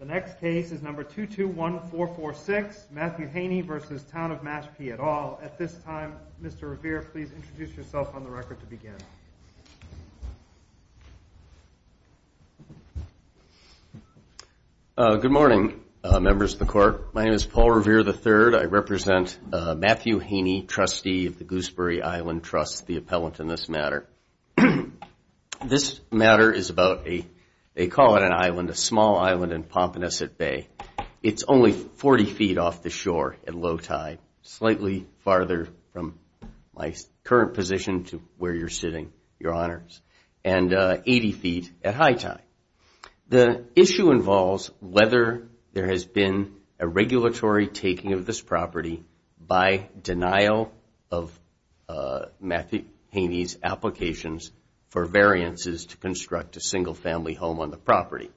The next case is number 221446, Matthew Haney v. Town of Mashpee et al. At this time, Mr. Revere, please introduce yourself on the record to begin. Good morning, members of the court. My name is Paul Revere III. I represent Matthew Haney, trustee of the Gooseberry Island Trust, the appellant in this matter. This matter is about a, they call it an island, a small island in Pompanouset Bay. It's only 40 feet off the shore at low tide, slightly farther from my current position to where you're sitting, your honors, and 80 feet at high tide. The issue involves whether there has been a regulatory taking of this property by denial of Matthew Haney's applications for variances to construct a single family home on the property.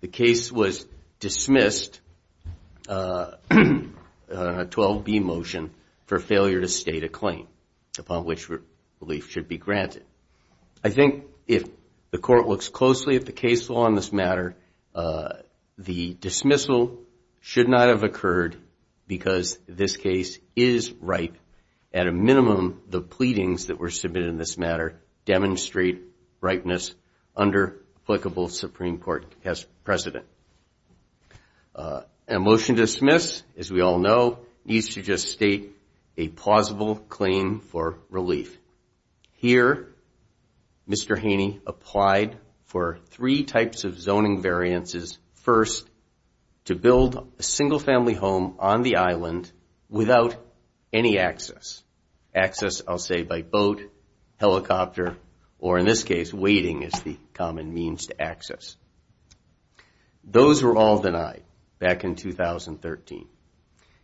The case was dismissed on a 12B motion for failure to state a claim upon which relief should be granted. I think if the court looks closely at the case law on this matter, the dismissal should not have occurred because this case is ripe. At a minimum, the pleadings that were submitted in this matter demonstrate ripeness under applicable Supreme Court precedent. A motion to dismiss, as we all know, needs to just state a plausible claim for relief. Here, Mr. Haney applied for three types of zoning variances. First, to build a single family home on the island without any access. Access, I'll say, by boat, helicopter, or in this case, waiting is the common means to access. Those were all denied back in 2013.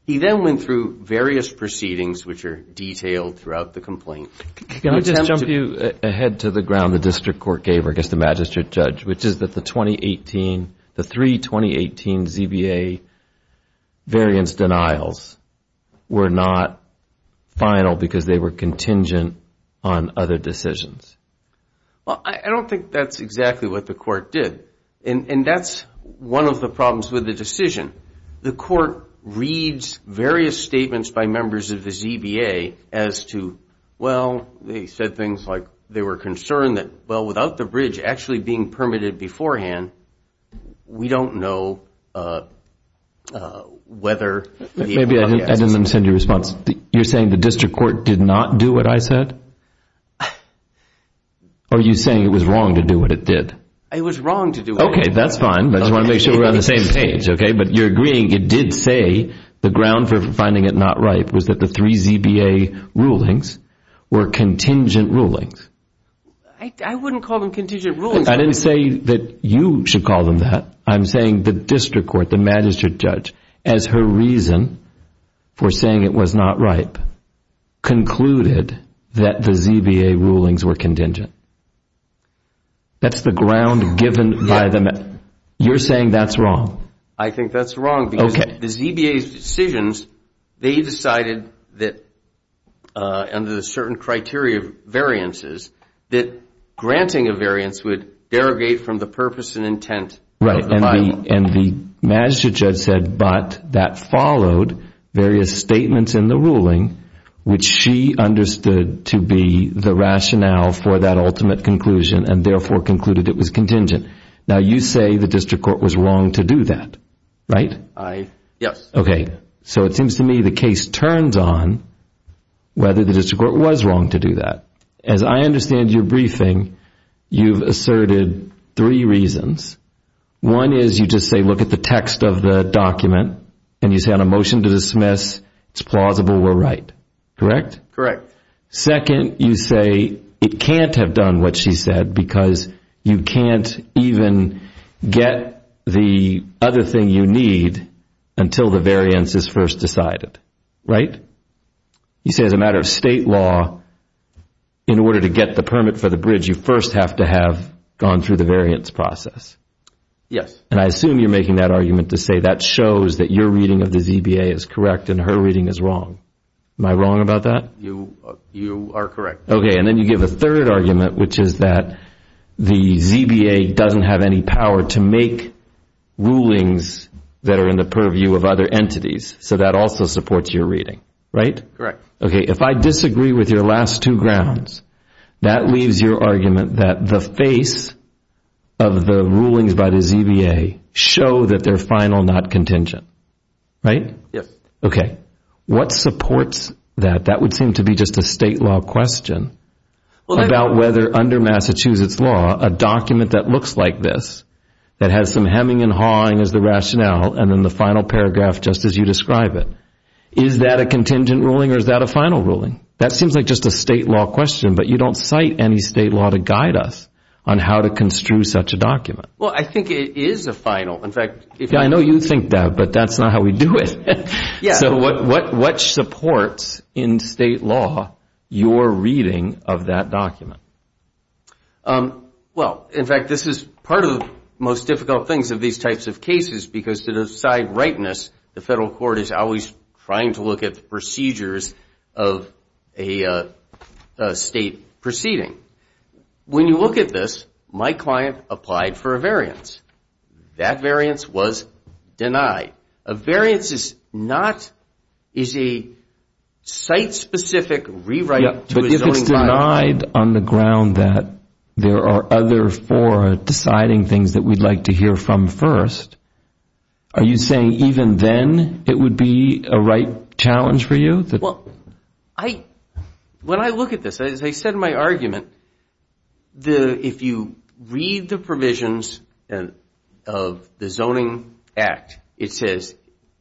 He then went through various proceedings which are detailed throughout the complaint. Can I just jump you ahead to the ground the district court gave against the magistrate judge, which is that the three 2018 ZBA variance denials were not final because they were contingent on other decisions? Well, I don't think that's exactly what the court did, and that's one of the problems with the decision. The court reads various statements by members of the ZBA as to, well, they said things like they were concerned that, well, without the bridge actually being permitted beforehand, we don't know whether the property has access. Maybe I didn't understand your response. You're saying the district court did not do what I said, or are you saying it was wrong to do what it did? Okay, that's fine, but I just want to make sure we're on the same page, okay? But you're agreeing it did say the ground for finding it not right was that the three ZBA rulings were contingent rulings. I wouldn't call them contingent rulings. I didn't say that you should call them that. I'm saying the district court, the magistrate judge, as her reason for saying it was not right, concluded that the ZBA rulings were contingent. That's the ground given by the magistrate judge. You're saying that's wrong. I think that's wrong because the ZBA's decisions, they decided that under the certain criteria of variances, that granting a variance would derogate from the purpose and intent of the final. And the magistrate judge said, but that followed various statements in the ruling, which she understood to be the rationale for that ultimate conclusion and therefore concluded it was contingent. Now, you say the district court was wrong to do that, right? Yes. Okay, so it seems to me the case turns on whether the district court was wrong to do that. As I understand your briefing, you've asserted three reasons. One is you just say look at the text of the document and you say on a motion to dismiss, it's plausible we're right, correct? Correct. Second, you say it can't have done what she said because you can't even get the other thing you need until the variance is first decided, right? You say as a matter of state law, in order to get the permit for the bridge, you first have to have gone through the variance process. Yes. And I assume you're making that argument to say that shows that your reading of the ZBA is correct and her reading is wrong. Am I wrong about that? You are correct. Okay, and then you give a third argument, which is that the ZBA doesn't have any power to make rulings that are in the purview of other entities, so that also supports your reading, right? Correct. Okay, if I disagree with your last two grounds, that leaves your argument that the face of the rulings by the ZBA show that they're final, not contingent, right? Yes. Okay, what supports that? That would seem to be just a state law question about whether under Massachusetts law, a document that looks like this, that has some hemming and hawing as the rationale, and then the final paragraph just as you describe it, is that a contingent ruling or is that a final ruling? That seems like just a state law question, but you don't cite any state law to guide us on how to construe such a document. Well, I think it is a final. I know you think that, but that's not how we do it. So what supports in state law your reading of that document? Well, in fact, this is part of the most difficult things of these types of cases because to the side rightness, the federal court is always trying to look at the procedures of a state proceeding. When you look at this, my client applied for a variance. That variance was denied. A variance is a site-specific rewrite to a zoning violation. But if it's denied on the ground that there are other four deciding things that we'd like to hear from first, are you saying even then it would be a right challenge for you? Well, when I look at this, as I said in my argument, if you read the provisions of the Zoning Act, it says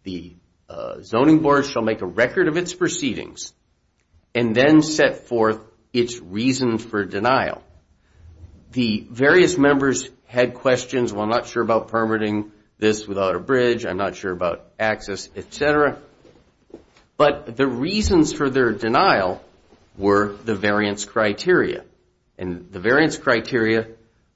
the zoning board shall make a record of its proceedings and then set forth its reason for denial. The various members had questions. Well, I'm not sure about permitting this without a bridge. I'm not sure about access, et cetera. But the reasons for their denial were the variance criteria. And the variance criteria,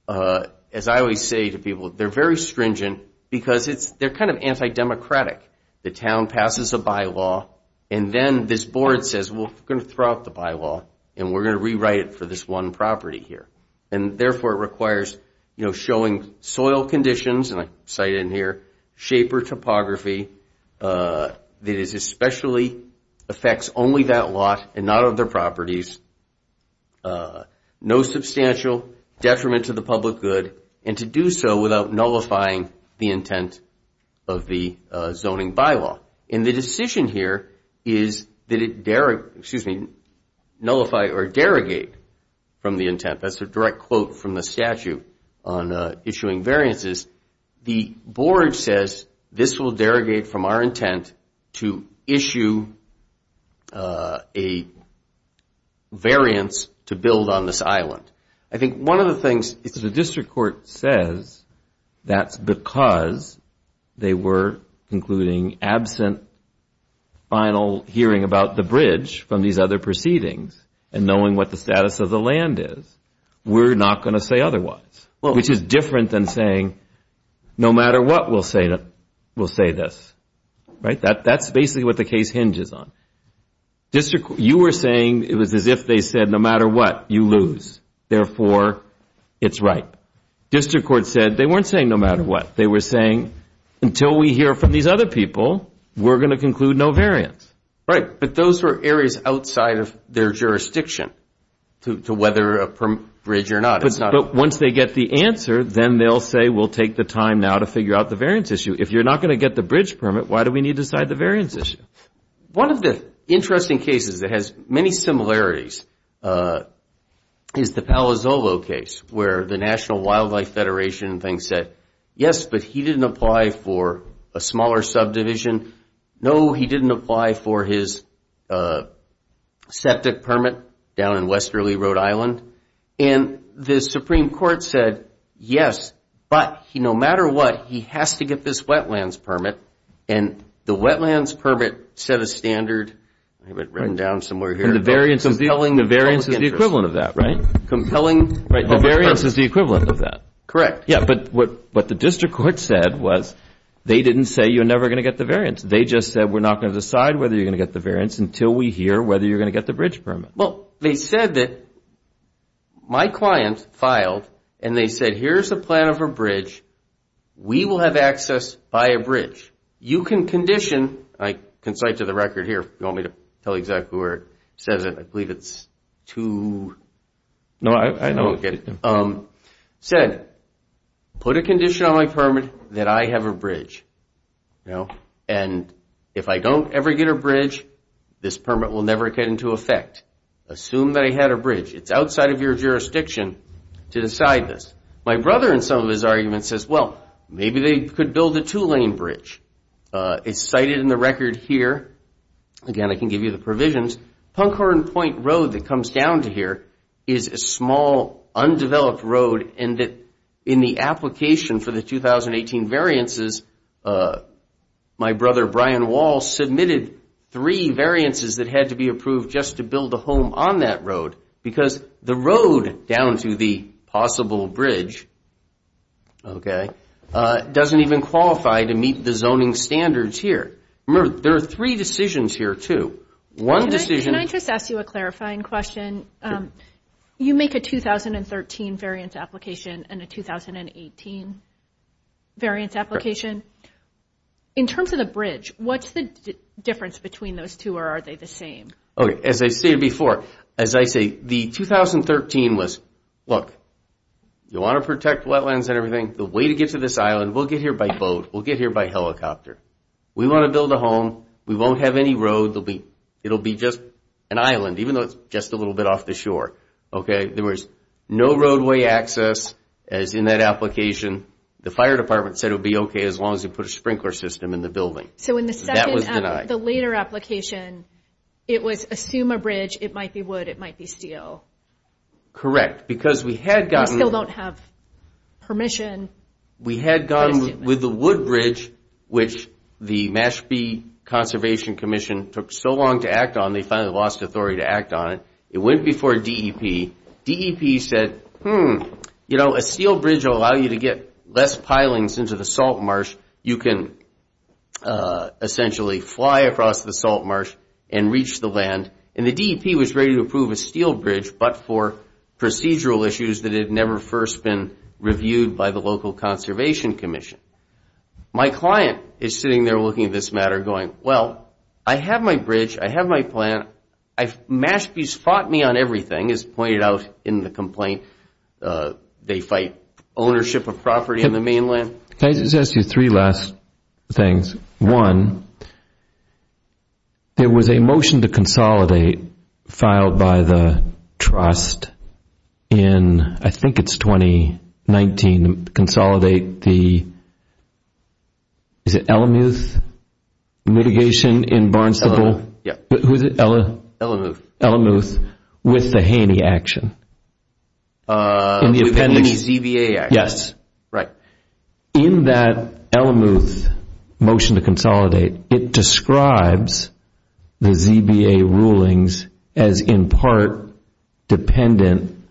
as I always say to people, they're very stringent because they're kind of anti-democratic. The town passes a bylaw and then this board says, well, we're going to throw out the bylaw and we're going to rewrite it for this one property here. And therefore, it requires, you know, showing soil conditions, and I cite in here, shape or topography that is especially affects only that lot and not other properties. No substantial detriment to the public good and to do so without nullifying the intent of the zoning bylaw. And the decision here is that it, excuse me, nullify or derogate from the intent. That's a direct quote from the statute on issuing variances. The board says this will derogate from our intent to issue a variance to build on this island. I think one of the things is the district court says that's because they were concluding absent final hearing about the bridge from these other proceedings and knowing what the status of the land is. We're not going to say otherwise, which is different than saying no matter what, we'll say this. Right. That's basically what the case hinges on. You were saying it was as if they said no matter what, you lose. Therefore, it's right. District court said they weren't saying no matter what. They were saying until we hear from these other people, we're going to conclude no variance. Right. But those were areas outside of their jurisdiction to whether a bridge or not. But once they get the answer, then they'll say we'll take the time now to figure out the variance issue. If you're not going to get the bridge permit, why do we need to decide the variance issue? One of the interesting cases that has many similarities is the Palo Zolo case where the National Wildlife Federation said yes, but he didn't apply for a smaller subdivision. No, he didn't apply for his septic permit down in westerly Rhode Island. And the Supreme Court said yes, but no matter what, he has to get this wetlands permit. And the wetlands permit set a standard. I have it written down somewhere here. The variance is the equivalent of that, right? The variance is the equivalent of that. Correct. Yeah, but what the district court said was they didn't say you're never going to get the variance. They just said we're not going to decide whether you're going to get the variance until we hear whether you're going to get the bridge permit. Well, they said that my client filed and they said here's a plan of a bridge. We will have access by a bridge. You can condition. I can cite to the record here if you want me to tell you exactly where it says it. I believe it's two. No, I don't get it. And if I don't ever get a bridge, this permit will never get into effect. Assume that I had a bridge. It's outside of your jurisdiction to decide this. My brother in some of his arguments says, well, maybe they could build a two-lane bridge. It's cited in the record here. Again, I can give you the provisions. Punkhorn Point Road that comes down to here is a small, undeveloped road. And in the application for the 2018 variances, my brother Brian Wall submitted three variances that had to be approved just to build a home on that road. Because the road down to the possible bridge doesn't even qualify to meet the zoning standards here. Remember, there are three decisions here, too. Can I just ask you a clarifying question? You make a 2013 variance application and a 2018 variance application. In terms of the bridge, what's the difference between those two, or are they the same? As I stated before, as I say, the 2013 was, look, you want to protect wetlands and everything? The way to get to this island, we'll get here by boat. We'll get here by helicopter. We want to build a home. We won't have any road. It'll be just an island, even though it's just a little bit off the shore. There was no roadway access, as in that application. The fire department said it would be okay as long as you put a sprinkler system in the building. So in the second, the later application, it was assume a bridge. It might be wood. It might be steel. Correct. Because we had gotten... We still don't have permission. We had gotten with the wood bridge, which the Mashpee Conservation Commission took so long to act on, they finally lost authority to act on it. It went before DEP. DEP said, hmm, you know, a steel bridge will allow you to get less pilings into the salt marsh. You can essentially fly across the salt marsh and reach the land. And the DEP was ready to approve a steel bridge, but for procedural issues that had never first been reviewed by the local conservation commission. My client is sitting there looking at this matter going, well, I have my bridge. I have my plan. Mashpee's fought me on everything, as pointed out in the complaint. They fight ownership of property in the mainland. Can I just ask you three last things? One, there was a motion to consolidate filed by the trust in, I think it's 2019, consolidate the, is it Elemuth mitigation in Barnesville? Who is it? Elemuth. Elemuth with the Haney action. With the Haney ZVA action. Yes. Right. In that Elemuth motion to consolidate, it describes the ZVA rulings as in part dependent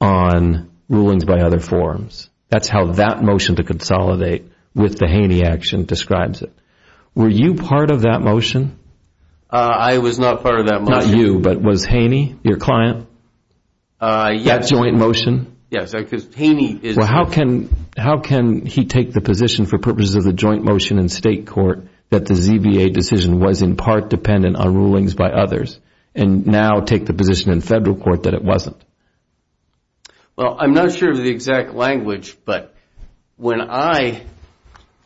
on rulings by other forms. That's how that motion to consolidate with the Haney action describes it. Were you part of that motion? I was not part of that motion. Not you, but was Haney your client? Yes. That joint motion? Yes. How can he take the position for purposes of the joint motion in state court that the ZVA decision was in part dependent on rulings by others and now take the position in federal court that it wasn't? Well, I'm not sure of the exact language, but when I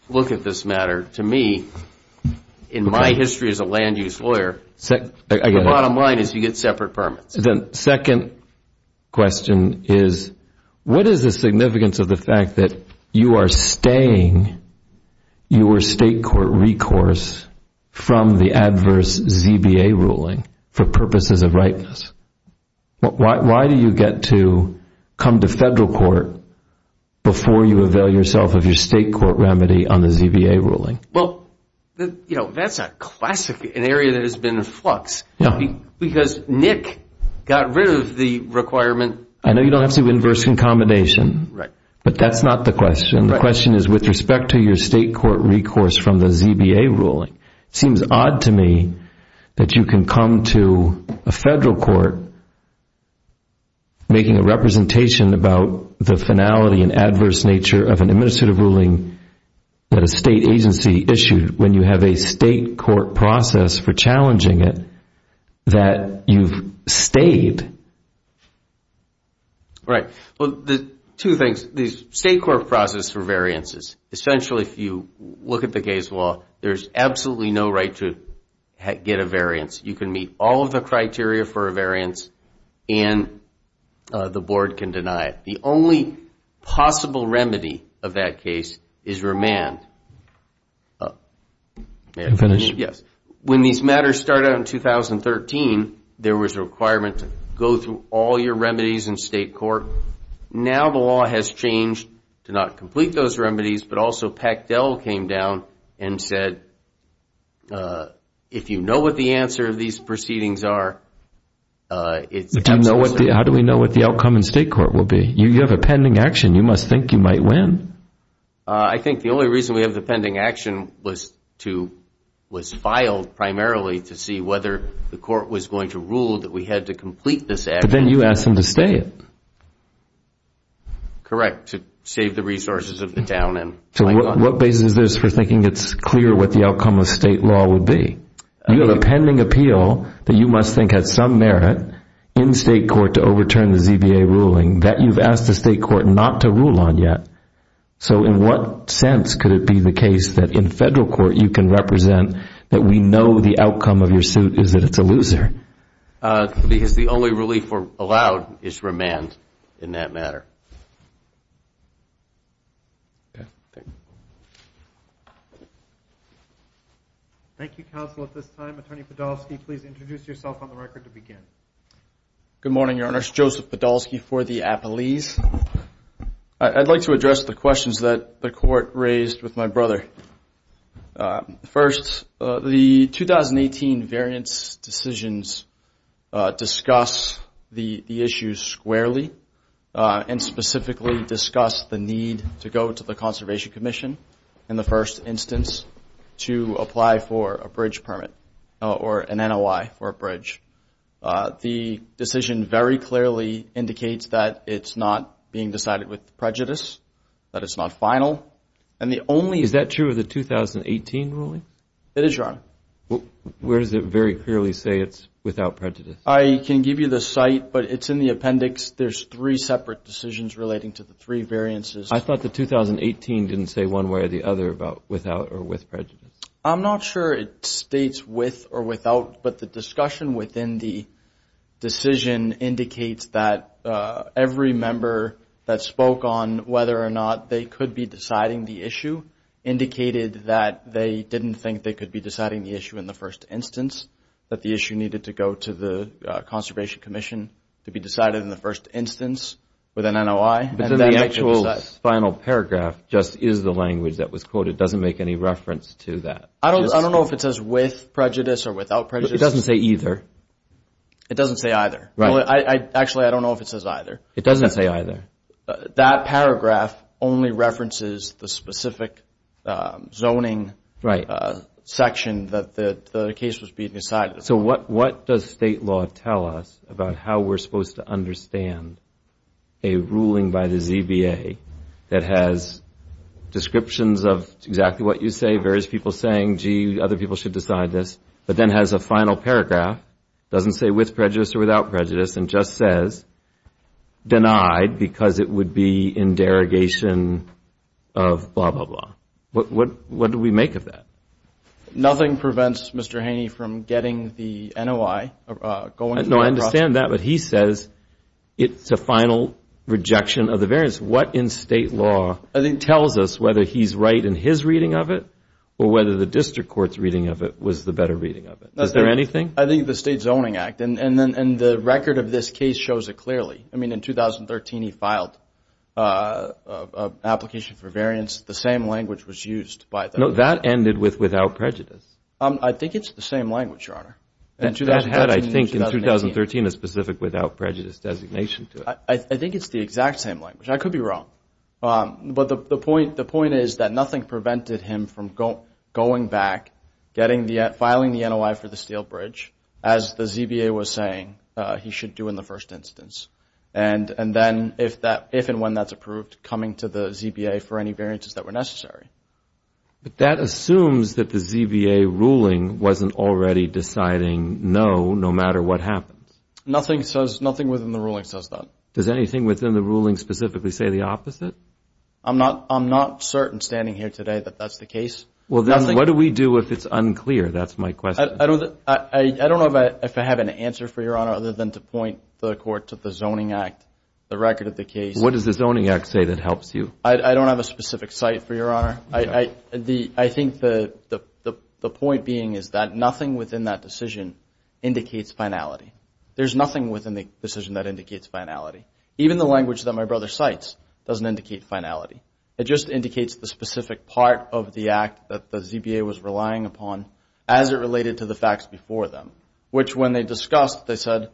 look at this matter, to me, in my history as a land use lawyer, the bottom line is you get separate permits. The second question is what is the significance of the fact that you are staying your state court recourse from the adverse ZVA ruling for purposes of ripeness? Why do you get to come to federal court before you avail yourself of your state court remedy on the ZVA ruling? Well, that's a classic, an area that has been in flux. Because Nick got rid of the requirement. I know you don't have to do inverse concomitation, but that's not the question. The question is with respect to your state court recourse from the ZVA ruling, it seems odd to me that you can come to a federal court making a representation about the finality and adverse nature of an administrative ruling that a state agency issued when you have a state court process for challenging it that you've stayed. Right. Well, two things. The state court process for variances, essentially if you look at the case law, there's absolutely no right to get a variance. You can meet all of the criteria for a variance and the board can deny it. The only possible remedy of that case is remand. May I finish? Yes. When these matters started out in 2013, there was a requirement to go through all your remedies in state court. Now the law has changed to not complete those remedies, but also Pactel came down and said, if you know what the answer of these proceedings are, it's absolutely. How do we know what the outcome in state court will be? You have a pending action. You must think you might win. I think the only reason we have the pending action was filed primarily to see whether the court was going to rule that we had to complete this action. But then you asked them to stay. Correct, to save the resources of the town. So what basis is this for thinking it's clear what the outcome of state law would be? You have a pending appeal that you must think had some merit in state court to overturn the ZBA ruling that you've asked the state court not to rule on yet. So in what sense could it be the case that in federal court you can represent that we know the outcome of your suit is that it's a loser? Because the only relief allowed is remand in that matter. Okay, thank you. Thank you, counsel. At this time, Attorney Podolsky, please introduce yourself on the record to begin. Good morning, Your Honor. It's Joseph Podolsky for the appellees. I'd like to address the questions that the court raised with my brother. First, the 2018 variance decisions discuss the issue squarely and specifically discuss the need to go to the Conservation Commission, in the first instance, to apply for a bridge permit or an NOI for a bridge. The decision very clearly indicates that it's not being decided with prejudice, that it's not final. Is that true of the 2018 ruling? It is, Your Honor. Where does it very clearly say it's without prejudice? I can give you the site, but it's in the appendix. There's three separate decisions relating to the three variances. I thought the 2018 didn't say one way or the other about without or with prejudice. I'm not sure it states with or without, but the discussion within the decision indicates that every member that spoke on whether or not they could be deciding the issue indicated that they didn't think they could be deciding the issue in the first instance, that the issue needed to go to the Conservation Commission to be decided in the first instance with an NOI. The actual final paragraph just is the language that was quoted. It doesn't make any reference to that. I don't know if it says with prejudice or without prejudice. It doesn't say either. It doesn't say either. Actually, I don't know if it says either. It doesn't say either. That paragraph only references the specific zoning section that the case was being decided. So what does state law tell us about how we're supposed to understand a ruling by the ZBA that has descriptions of exactly what you say, various people saying, gee, other people should decide this, but then has a final paragraph, doesn't say with prejudice or without prejudice, and just says denied because it would be in derogation of blah, blah, blah. What do we make of that? Nothing prevents Mr. Haney from getting the NOI. No, I understand that. But he says it's a final rejection of the variance. What in state law tells us whether he's right in his reading of it or whether the district court's reading of it was the better reading of it? Is there anything? I think the State Zoning Act. And the record of this case shows it clearly. I mean, in 2013, he filed an application for variance. The same language was used. No, that ended with without prejudice. I think it's the same language, Your Honor. That had, I think, in 2013, a specific without prejudice designation to it. I think it's the exact same language. I could be wrong. But the point is that nothing prevented him from going back, filing the NOI for the steel bridge, as the ZBA was saying he should do in the first instance, and then if and when that's approved, coming to the ZBA for any variances that were necessary. But that assumes that the ZBA ruling wasn't already deciding no, no matter what happens. Nothing within the ruling says that. Does anything within the ruling specifically say the opposite? I'm not certain, standing here today, that that's the case. Well, then what do we do if it's unclear? That's my question. I don't know if I have an answer for you, Your Honor, other than to point the court to the Zoning Act, the record of the case. What does the Zoning Act say that helps you? I don't have a specific site for you, Your Honor. I think the point being is that nothing within that decision indicates finality. There's nothing within the decision that indicates finality. Even the language that my brother cites doesn't indicate finality. It just indicates the specific part of the act that the ZBA was relying upon as it related to the facts before them. Which, when they discussed, they said,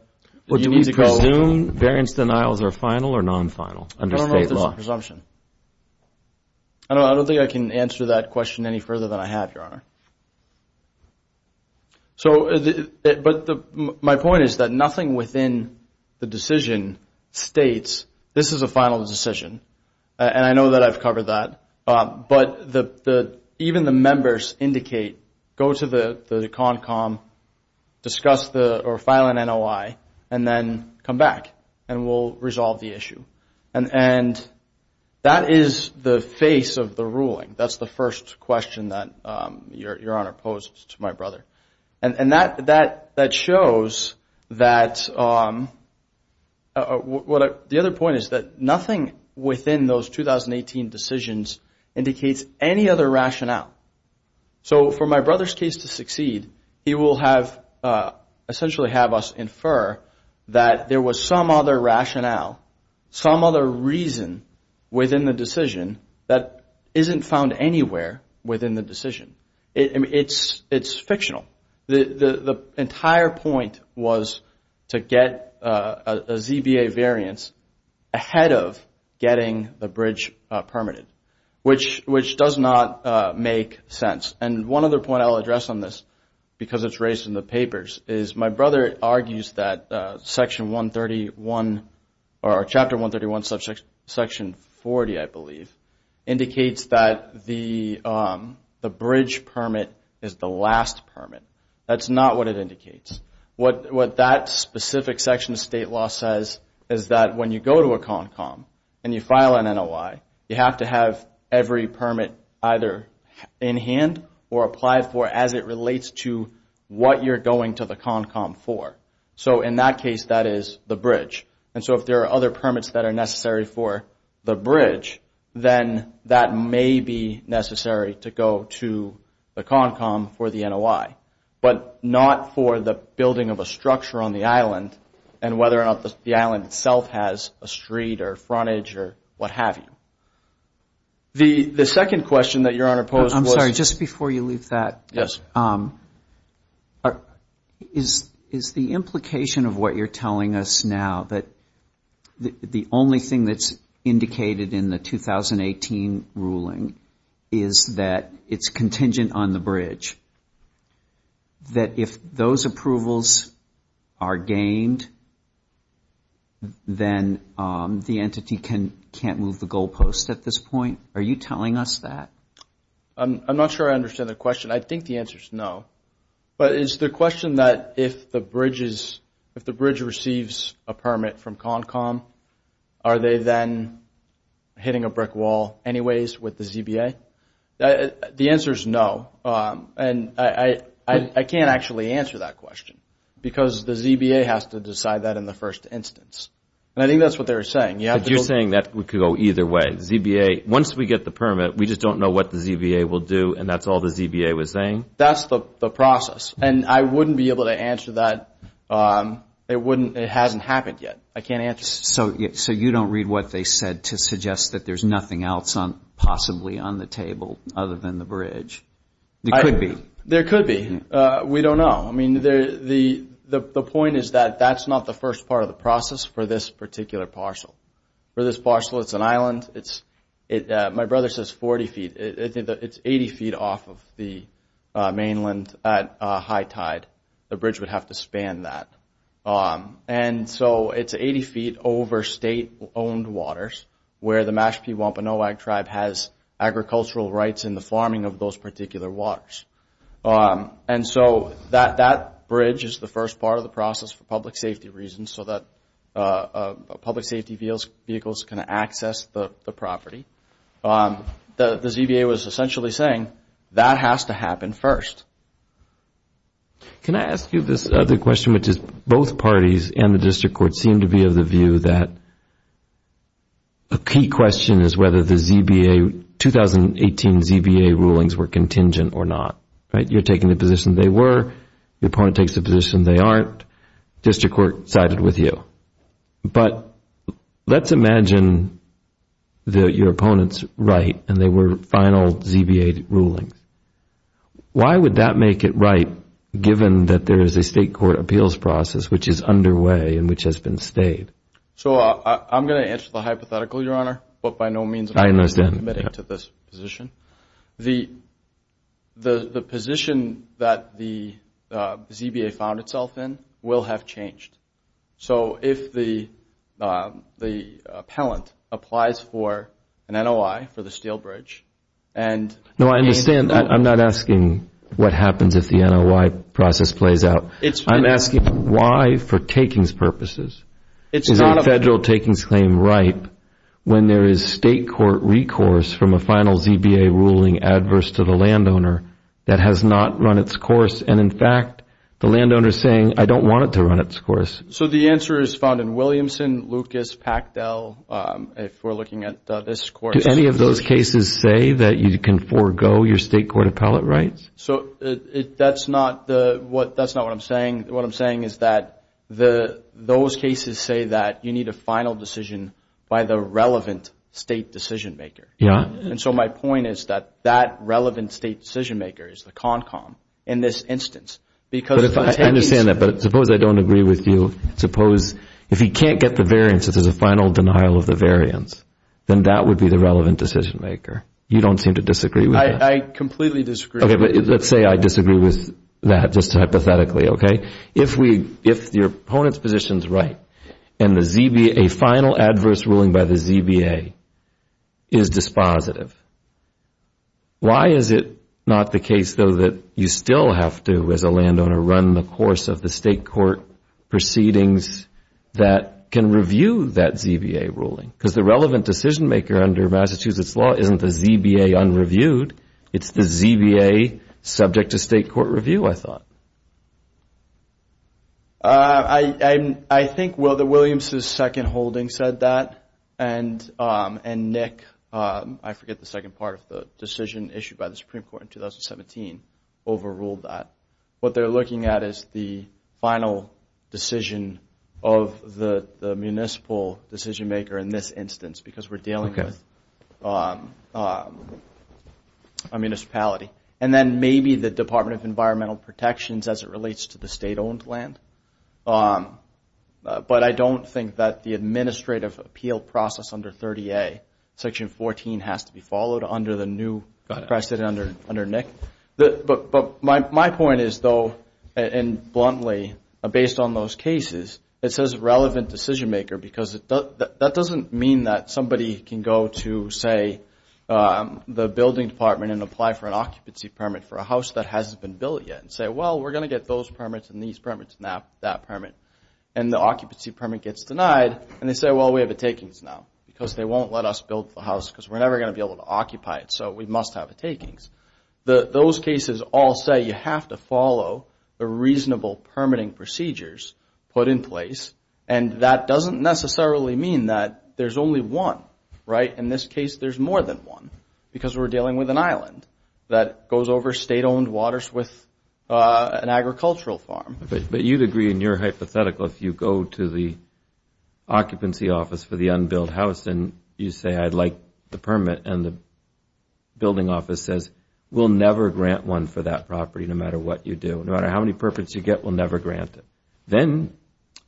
do we presume variance denials are final or non-final under state law? I don't know if there's a presumption. I don't think I can answer that question any further than I have, Your Honor. But my point is that nothing within the decision states, this is a final decision. And I know that I've covered that. But even the members indicate, go to the CONCOM, discuss or file an NOI, and then come back and we'll resolve the issue. And that is the face of the ruling. That's the first question that Your Honor posed to my brother. And that shows that the other point is that nothing within those 2018 decisions indicates any other rationale. So for my brother's case to succeed, he will essentially have us infer that there was some other rationale, some other reason within the decision that isn't found anywhere within the decision. It's fictional. The entire point was to get a ZBA variance ahead of getting the bridge permitted, which does not make sense. And one other point I'll address on this, because it's raised in the papers, is my brother argues that Section 131, or Chapter 131, Section 40, I believe, indicates that the bridge permit is the last permit. That's not what it indicates. What that specific section of state law says is that when you go to a CONCOM and you file an NOI, you have to have every permit either in hand or applied for as it relates to what you're going to the CONCOM for. So in that case, that is the bridge. And so if there are other permits that are necessary for the bridge, then that may be necessary to go to the CONCOM for the NOI, but not for the building of a structure on the island and whether or not the island itself has a street or frontage or what have you. The second question that Your Honor posed was – I'm sorry, just before you leave that. Yes. Is the implication of what you're telling us now that the only thing that's indicated in the 2018 ruling is that it's contingent on the bridge, that if those approvals are gained, then the entity can't move the goalpost at this point? Are you telling us that? I'm not sure I understand the question. I think the answer is no. But is the question that if the bridge receives a permit from CONCOM, are they then hitting a brick wall anyways with the ZBA? The answer is no, and I can't actually answer that question because the ZBA has to decide that in the first instance. And I think that's what they were saying. You're saying that we could go either way. Once we get the permit, we just don't know what the ZBA will do and that's all the ZBA was saying? That's the process, and I wouldn't be able to answer that. It hasn't happened yet. I can't answer that. So you don't read what they said to suggest that there's nothing else possibly on the table other than the bridge? There could be. There could be. We don't know. I mean, the point is that that's not the first part of the process for this particular parcel. For this parcel, it's an island. My brother says 40 feet. It's 80 feet off of the mainland at high tide. The bridge would have to span that. And so it's 80 feet over state-owned waters where the Mashpee Wampanoag Tribe has agricultural rights in the farming of those particular waters. And so that bridge is the first part of the process for public safety reasons so that public safety vehicles can access the property. The ZBA was essentially saying that has to happen first. Can I ask you this other question, which is both parties and the district court seem to be of the view that a key question is whether the 2018 ZBA rulings were contingent or not. You're taking the position they were. The opponent takes the position they aren't. District court sided with you. But let's imagine that your opponent's right and they were final ZBA rulings. Why would that make it right given that there is a state court appeals process which is underway and which has been stayed? So I'm going to answer the hypothetical, Your Honor, but by no means am I going to submit it to this position. The position that the ZBA found itself in will have changed. So if the appellant applies for an NOI for the steel bridge and gains that. No, I understand. I'm not asking what happens if the NOI process plays out. I'm asking why for takings purposes is a federal takings claim right when there is state court recourse from a final ZBA ruling adverse to the landowner that has not run its course. And, in fact, the landowner is saying, I don't want it to run its course. So the answer is found in Williamson, Lucas, Pactel, if we're looking at this court. Do any of those cases say that you can forego your state court appellate rights? So that's not what I'm saying. What I'm saying is that those cases say that you need a final decision by the relevant state decision maker. And so my point is that that relevant state decision maker is the CONCOM in this instance. I understand that, but suppose I don't agree with you. Suppose if he can't get the variance, if there's a final denial of the variance, then that would be the relevant decision maker. You don't seem to disagree with that. I completely disagree. Okay, but let's say I disagree with that just hypothetically, okay? If your opponent's position is right and a final adverse ruling by the ZBA is dispositive, why is it not the case, though, that you still have to, as a landowner, run the course of the state court proceedings that can review that ZBA ruling? Because the relevant decision maker under Massachusetts law isn't the ZBA unreviewed. It's the ZBA subject to state court review, I thought. I think, well, that Williams' second holding said that, and Nick, I forget the second part of the decision issued by the Supreme Court in 2017, overruled that. What they're looking at is the final decision of the municipal decision maker in this instance because we're dealing with a municipality, and then maybe the Department of Environmental Protections as it relates to the state-owned land. But I don't think that the administrative appeal process under 30A, Section 14, has to be followed under the new precedent under Nick. But my point is, though, and bluntly, based on those cases, it says relevant decision maker because that doesn't mean that somebody can go to, say, the building department and apply for an occupancy permit for a house that hasn't been built yet and say, well, we're going to get those permits and these permits and that permit. And the occupancy permit gets denied, and they say, well, we have a takings now because they won't let us build the house because we're never going to be able to occupy it, so we must have a takings. Those cases all say you have to follow the reasonable permitting procedures put in place, and that doesn't necessarily mean that there's only one, right? In this case, there's more than one because we're dealing with an island that goes over state-owned waters with an agricultural farm. But you'd agree in your hypothetical if you go to the occupancy office for the unbuilt house and you say, I'd like the permit, and the building office says, we'll never grant one for that property no matter what you do, no matter how many permits you get, we'll never grant it. Then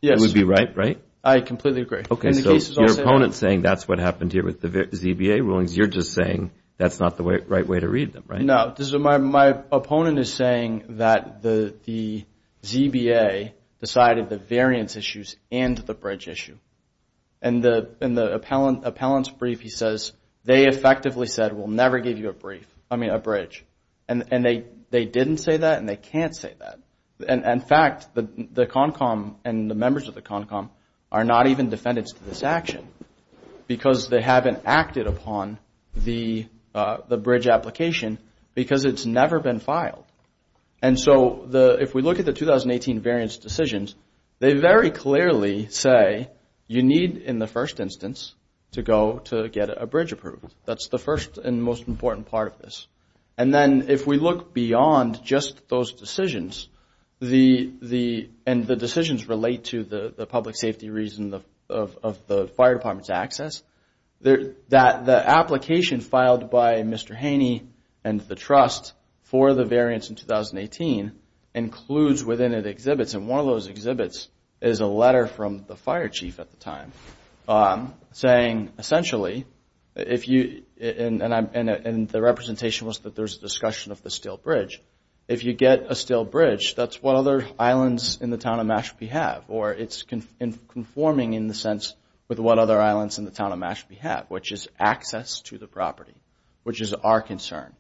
it would be right, right? I completely agree. Okay, so your opponent is saying that's what happened here with the ZBA rulings. You're just saying that's not the right way to read them, right? No, my opponent is saying that the ZBA decided the variance issues and the bridge issue. In the appellant's brief, he says, they effectively said, we'll never give you a bridge. And they didn't say that, and they can't say that. In fact, the CONCOMM and the members of the CONCOMM are not even defendants to this action because they haven't acted upon the bridge application because it's never been filed. And so if we look at the 2018 variance decisions, they very clearly say, you need in the first instance to go to get a bridge approved. That's the first and most important part of this. And then if we look beyond just those decisions, and the decisions relate to the public safety reason of the fire department's access, the application filed by Mr. Haney and the trust for the variance in 2018 includes within it exhibits. And one of those exhibits is a letter from the fire chief at the time saying, essentially, and the representation was that there's a discussion of the steel bridge. If you get a steel bridge, that's what other islands in the town of Mashpee have, or it's conforming in the sense with what other islands in the town of Mashpee have, which is access to the property, which is our concern.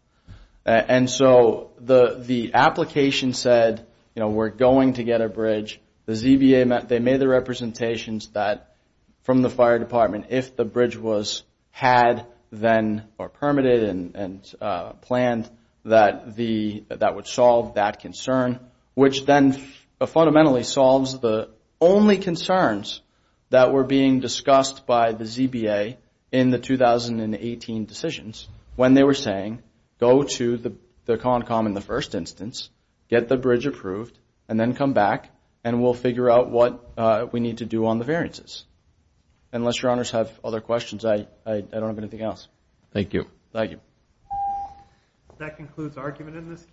And so the application said, you know, we're going to get a bridge. The ZBA, they made the representations that from the fire department, if the bridge was had then or permitted and planned, that would solve that concern, which then fundamentally solves the only concerns that were being discussed by the ZBA in the 2018 decisions when they were saying, go to the CONCOM in the first instance, get the bridge approved, and then come back and we'll figure out what we need to do on the variances. Unless your honors have other questions, I don't have anything else. Thank you. Thank you. That concludes argument in this case.